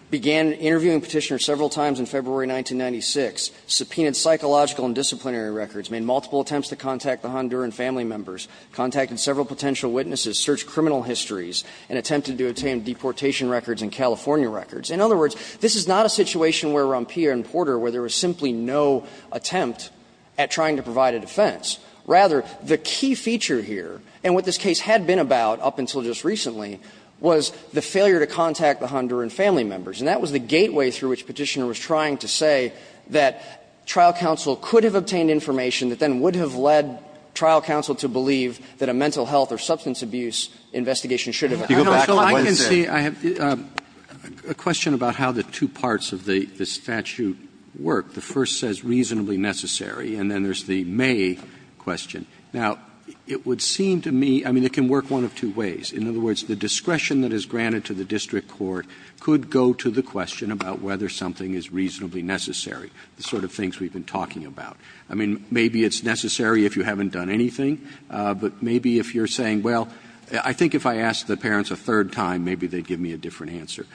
began interviewing Petitioner several times in February 1996, subpoenaed psychological and disciplinary records, made multiple attempts to contact the Honduran family members, contacted several potential witnesses, searched criminal histories, and attempted to obtain deportation records and California records. In other words, this is not a situation where Rompilla and Porter, where there was simply no attempt at trying to provide a defense. Rather, the key feature here, and what this case had been about up until just recently, was the failure to contact the Honduran family members. And that was the gateway through which Petitioner was trying to say that trial counsel could have obtained information that then would have led trial counsel to believe that a mental health or substance abuse investigation should have occurred. Roberts, a question about how the two parts of the statute work. The first says reasonably necessary, and then there's the may question. Now, it would seem to me, I mean, it can work one of two ways. In other words, the discretion that is granted to the district court could go to the question about whether something is reasonably necessary, the sort of things we've been talking about. I mean, maybe it's necessary if you haven't done anything, but maybe if you're saying, well, I think if I asked the parents a third time, maybe they'd give me a different answer.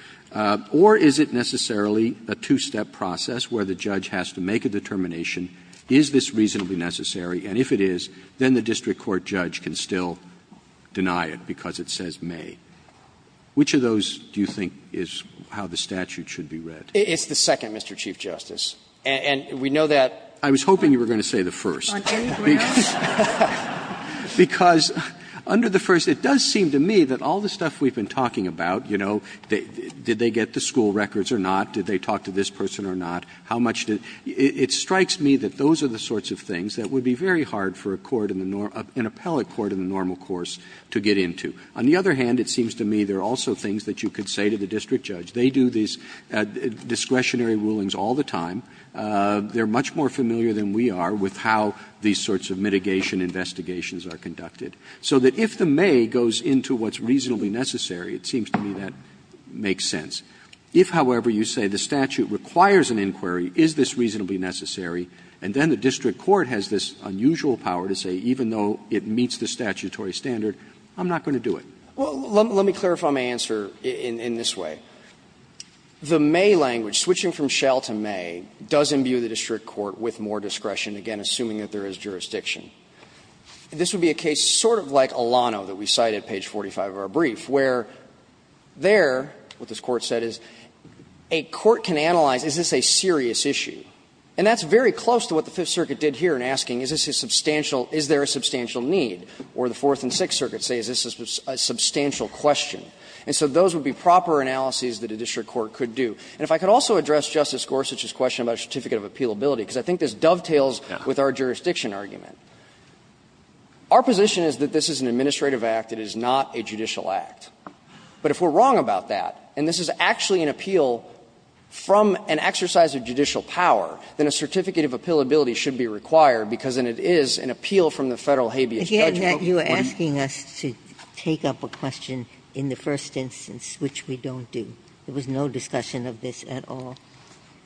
Or is it necessarily a two-step process where the judge has to make a determination, is this reasonably necessary, and if it is, then the district court judge can still deny it because it says may. Which of those do you think is how the statute should be read? It's the second, Mr. Chief Justice, and we know that. Roberts, I was hoping you were going to say the first. Because under the first, it does seem to me that all the stuff we've been talking about, you know, did they get the school records or not, did they talk to this person or not, how much did they do, it strikes me that those are the sorts of things that would be very hard for an appellate court in the normal course to get into. On the other hand, it seems to me there are also things that you could say to the district judge. They do these discretionary rulings all the time. They are much more familiar than we are with how these sorts of mitigation investigations are conducted. So that if the may goes into what's reasonably necessary, it seems to me that makes sense. If, however, you say the statute requires an inquiry, is this reasonably necessary, and then the district court has this unusual power to say, even though it meets the statutory standard, I'm not going to do it. Well, let me clarify my answer in this way. The may language, switching from shall to may, does imbue the district court with more discretion, again, assuming that there is jurisdiction. This would be a case sort of like Alano that we cite at page 45 of our brief, where there, what this Court said is, a court can analyze, is this a serious issue. And that's very close to what the Fifth Circuit did here in asking, is this a substantial need, or the Fourth and Sixth Circuits say, is this a substantial question. And so those would be proper analyses that a district court could do. And if I could also address Justice Gorsuch's question about a certificate of appealability, because I think this dovetails with our jurisdiction argument. Our position is that this is an administrative act, it is not a judicial act. But if we're wrong about that, and this is actually an appeal from an exercise of judicial power, then a certificate of appealability should be required, because it is an appeal from the Federal habeas judge. Ginsburg You're asking us to take up a question in the first instance, which we don't do. There was no discussion of this at all.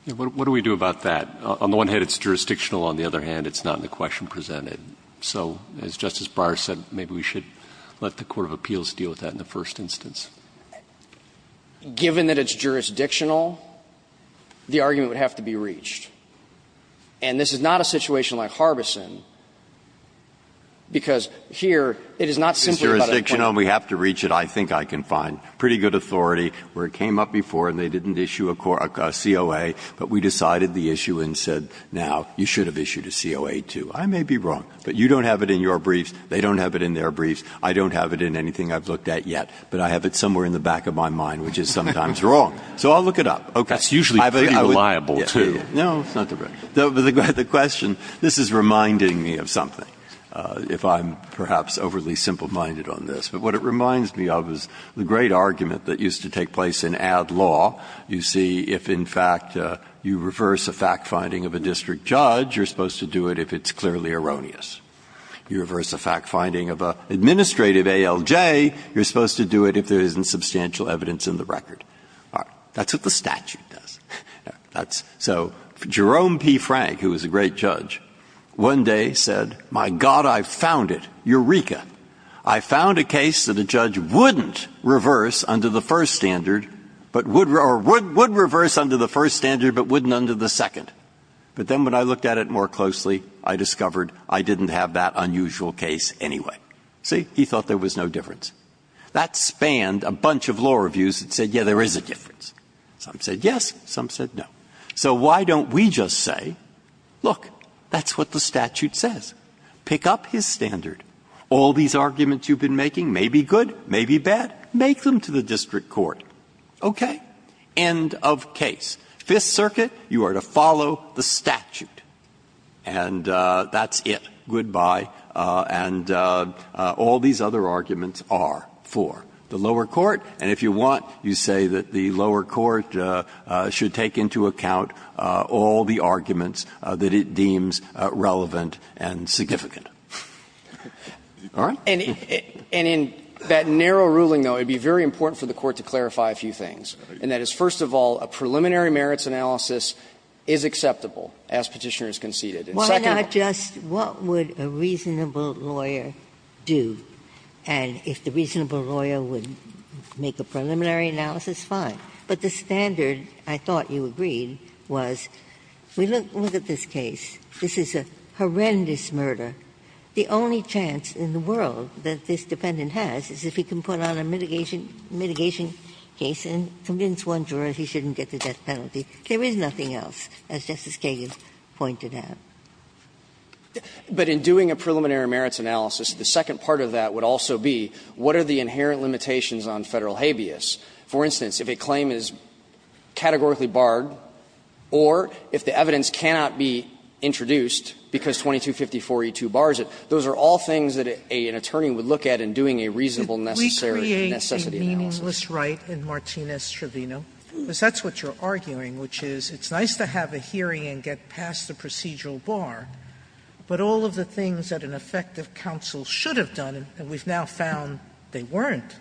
Roberts What do we do about that? On the one hand, it's jurisdictional. On the other hand, it's not in the question presented. So as Justice Breyer said, maybe we should let the court of appeals deal with that in the first instance. Gannon Given that it's jurisdictional, the argument would have to be reached. And this is not a situation like Harbison, because here it is not simply about a court Breyer It's jurisdictional and we have to reach it, I think, I can find. Pretty good authority, where it came up before and they didn't issue a COA, but we decided the issue and said, now, you should have issued a COA, too. I may be wrong, but you don't have it in your briefs, they don't have it in their briefs, I don't have it in anything I've looked at yet, but I have it somewhere in the back of my mind, which is sometimes wrong. So I'll look it up. Okay. Breyer That's usually pretty reliable, too. Breyer No, it's not the record. The question, this is reminding me of something, if I'm perhaps overly simple-minded on this. But what it reminds me of is the great argument that used to take place in ad law. You see, if in fact you reverse a fact-finding of a district judge, you're supposed to do it if it's clearly erroneous. You reverse a fact-finding of an administrative ALJ, you're supposed to do it if there isn't substantial evidence in the record. That's what the statute does. That's so Jerome P. Frank, who was a great judge, one day said, my God, I've found it, eureka. I found a case that a judge wouldn't reverse under the first standard, but would or would reverse under the first standard, but wouldn't under the second. But then when I looked at it more closely, I discovered I didn't have that unusual case anyway. See, he thought there was no difference. That spanned a bunch of law reviews that said, yes, there is a difference. Some said yes, some said no. So why don't we just say, look, that's what the statute says. Pick up his standard. All these arguments you've been making may be good, may be bad. Make them to the district court. Okay? End of case. Fifth Circuit, you are to follow the statute. And that's it. Goodbye. And all these other arguments are for the lower court. And if you want, you say that the lower court should take into account all the arguments that it deems relevant and significant. All right? And in that narrow ruling, though, it would be very important for the Court to clarify a few things, and that is, first of all, a preliminary merits analysis is acceptable as Petitioner has conceded. And second of all What would a reasonable lawyer do? And if the reasonable lawyer would make a preliminary analysis, fine. But the standard, I thought you agreed, was, we look at this case. This is a horrendous murder. The only chance in the world that this defendant has is if he can put on a mitigation case and convince one juror he shouldn't get the death penalty. There is nothing else, as Justice Kagan pointed out. But in doing a preliminary merits analysis, the second part of that would also be, what are the inherent limitations on Federal habeas? For instance, if a claim is categorically barred or if the evidence cannot be introduced because 2250-4E2 bars it, those are all things that an attorney would look at in doing a reasonable necessity analysis. Sotomayor, We create a meaningless right in Martinez-Trevino, because that's what you're arguing, which is, it's nice to have a hearing and get past the procedural bar, but all of the things that an effective counsel should have done, and we've now found they weren't.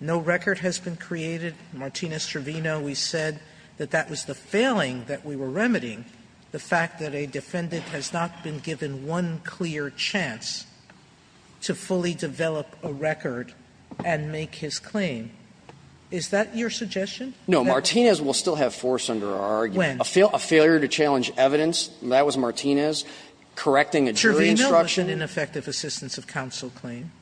No record has been created. In Martinez-Trevino, we said that that was the failing that we were remedying, the fact that a defendant has not been given one clear chance to fully develop a record and make his claim. Is that your suggestion? No, Martinez will still have force under our argument. Sotomayor, When? A failure to challenge evidence, that was Martinez, correcting a jury instruction. Sotomayor, Trevino was an ineffective assistance of counsel claim.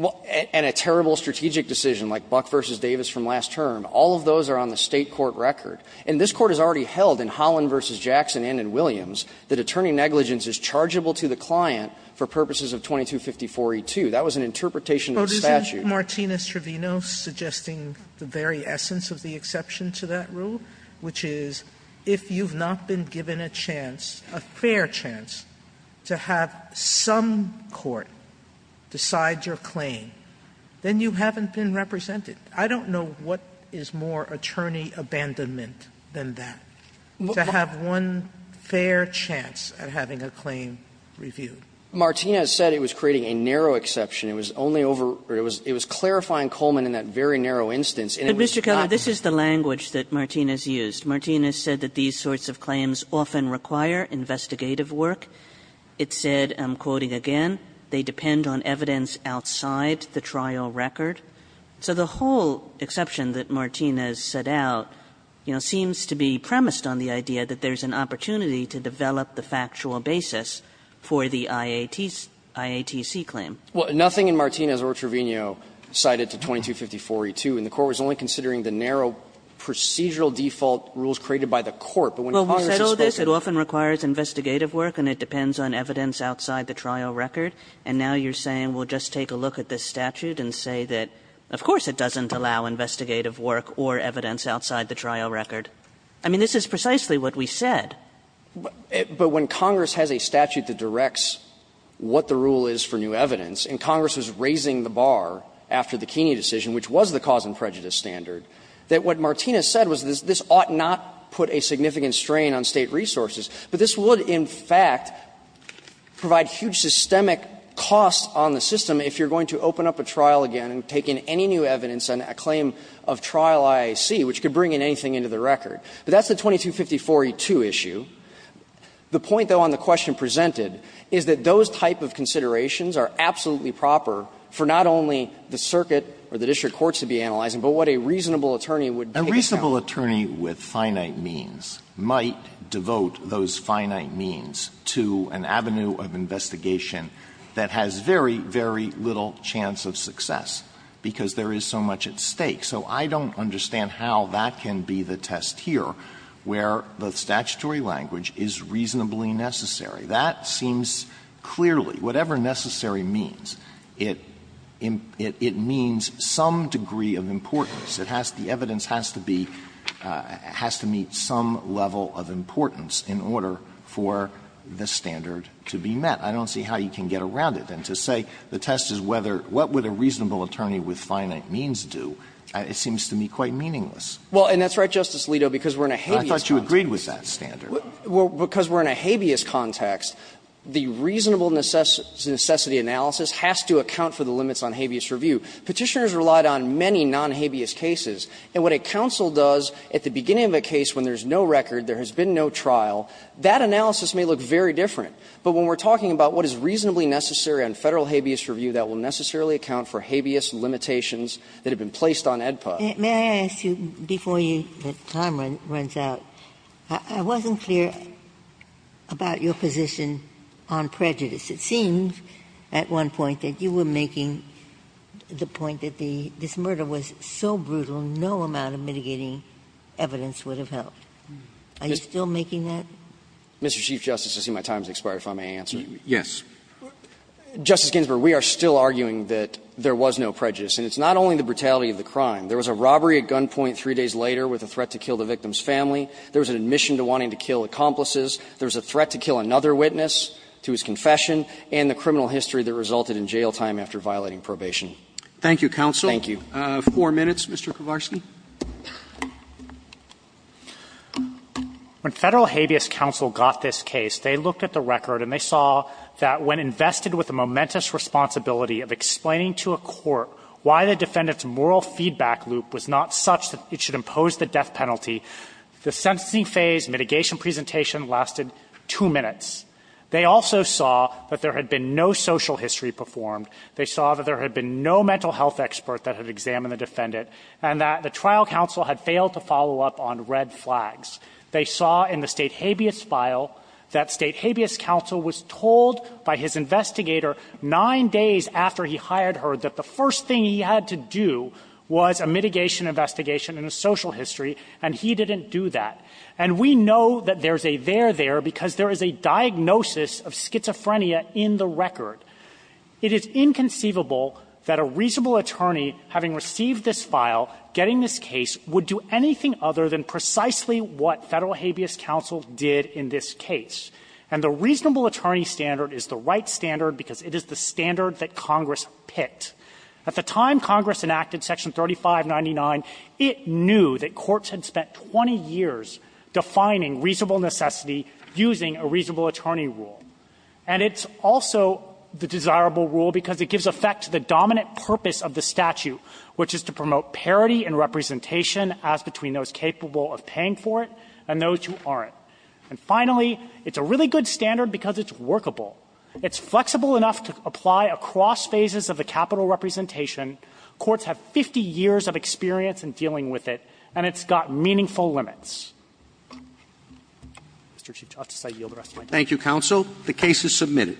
And a terrible strategic decision like Buck v. Davis from last term, all of those are on the State court record. And this Court has already held in Holland v. Jackson and in Williams that attorney negligence is chargeable to the client for purposes of 2250-4E2. That was an interpretation of the statute. Sotomayor, Martinez-Trevino suggesting the very essence of the exception to that rule, which is if you've not been given a chance, a fair chance, to have some court decide your claim, then you haven't been represented. I don't know what is more attorney abandonment than that, to have one fair chance at having a claim reviewed. Martinez said it was creating a narrow exception. It was only over or it was clarifying Coleman in that very narrow instance. And it was not. Kagan, this is the language that Martinez used. Martinez said that these sorts of claims often require investigative work. It said, I'm quoting again, they depend on evidence outside the trial record. So the whole exception that Martinez set out, you know, seems to be premised on the idea that there's an opportunity to develop the factual basis for the IATC claim. Well, nothing in Martinez or Trevino cited to 2254E2. And the Court was only considering the narrow procedural default rules created by the Court. But when Congress is supposed to do this, it often requires investigative work and it depends on evidence outside the trial record. And now you're saying we'll just take a look at this statute and say that, of course, it doesn't allow investigative work or evidence outside the trial record. I mean, this is precisely what we said. But when Congress has a statute that directs what the rule is for new evidence, and Congress was raising the bar after the Keeney decision, which was the cause and prejudice standard, that what Martinez said was this ought not put a significant strain on State resources, but this would in fact provide huge systemic costs on the system if you're going to open up a trial again and take in any new evidence on a claim of trial IAC, which could bring in anything into the record. But that's the 2254E2 issue. The point, though, on the question presented is that those type of considerations are absolutely proper for not only the circuit or the district courts to be analyzing, but what a reasonable attorney would take account of. Alitoso, a reasonable attorney with finite means might devote those finite means to an avenue of investigation that has very, very little chance of success, because there is so much at stake. So I don't understand how that can be the test here, where the statutory language is reasonably necessary. That seems clearly, whatever necessary means, it means some degree of importance. It has to be, the evidence has to be, has to meet some level of importance in order for the standard to be met. I don't see how you can get around it. And to say the test is whether, what would a reasonable attorney with finite means do, it seems to me quite meaningless. Well, and that's right, Justice Alito, because we're in a habeas context. I thought you agreed with that standard. Because we're in a habeas context, the reasonable necessity analysis has to account for the limits on habeas review. Petitioners relied on many non-habeas cases. And what a counsel does at the beginning of a case when there's no record, there has been no trial, that analysis may look very different. But when we're talking about what is reasonably necessary on Federal habeas review that will necessarily account for habeas limitations that have been placed on AEDPA. May I ask you, before the time runs out, I wasn't clear about your position on prejudice. It seems at one point that you were making the point that this murder was so brutal no amount of mitigating evidence would have helped. Are you still making that? Mr. Chief Justice, I see my time has expired, if I may answer. Yes. Justice Ginsburg, we are still arguing that there was no prejudice. And it's not only the brutality of the crime. There was a robbery at gunpoint three days later with a threat to kill the victim's family. There was an admission to wanting to kill accomplices. There was a threat to kill another witness to his confession. And the criminal history that resulted in jail time after violating probation. Roberts. Thank you, counsel. Thank you. Four minutes, Mr. Kowarski. When Federal habeas counsel got this case, they looked at the record and they saw that when invested with the momentous responsibility of explaining to a court why the defendant's moral feedback loop was not such that it should impose the death penalty, the sentencing phase mitigation presentation lasted two minutes. They also saw that there had been no social history performed. They saw that there had been no mental health expert that had examined the defendant and that the trial counsel had failed to follow up on red flags. They saw in the State habeas file that State habeas counsel was told by his investigator nine days after he hired her that the first thing he had to do was a mitigation investigation and a social history, and he didn't do that. And we know that there's a there there because there is a diagnosis of schizophrenia in the record. It is inconceivable that a reasonable attorney, having received this file, getting this case, would do anything other than precisely what Federal habeas counsel did in this case. And the reasonable attorney standard is the right standard because it is the standard that Congress picked. At the time Congress enacted Section 3599, it knew that courts had spent 20 years defining reasonable necessity using a reasonable attorney rule. And it's also the desirable rule because it gives effect to the dominant purpose of the statute, which is to promote parity in representation as between those capable of paying for it and those who aren't. And finally, it's a really good standard because it's workable. It's flexible enough to apply across phases of the capital representation. Courts have 50 years of experience in dealing with it, and it's got meaningful limits. Mr. Chief Justice, I yield the rest of my time. Roberts. Thank you, counsel. The case is submitted.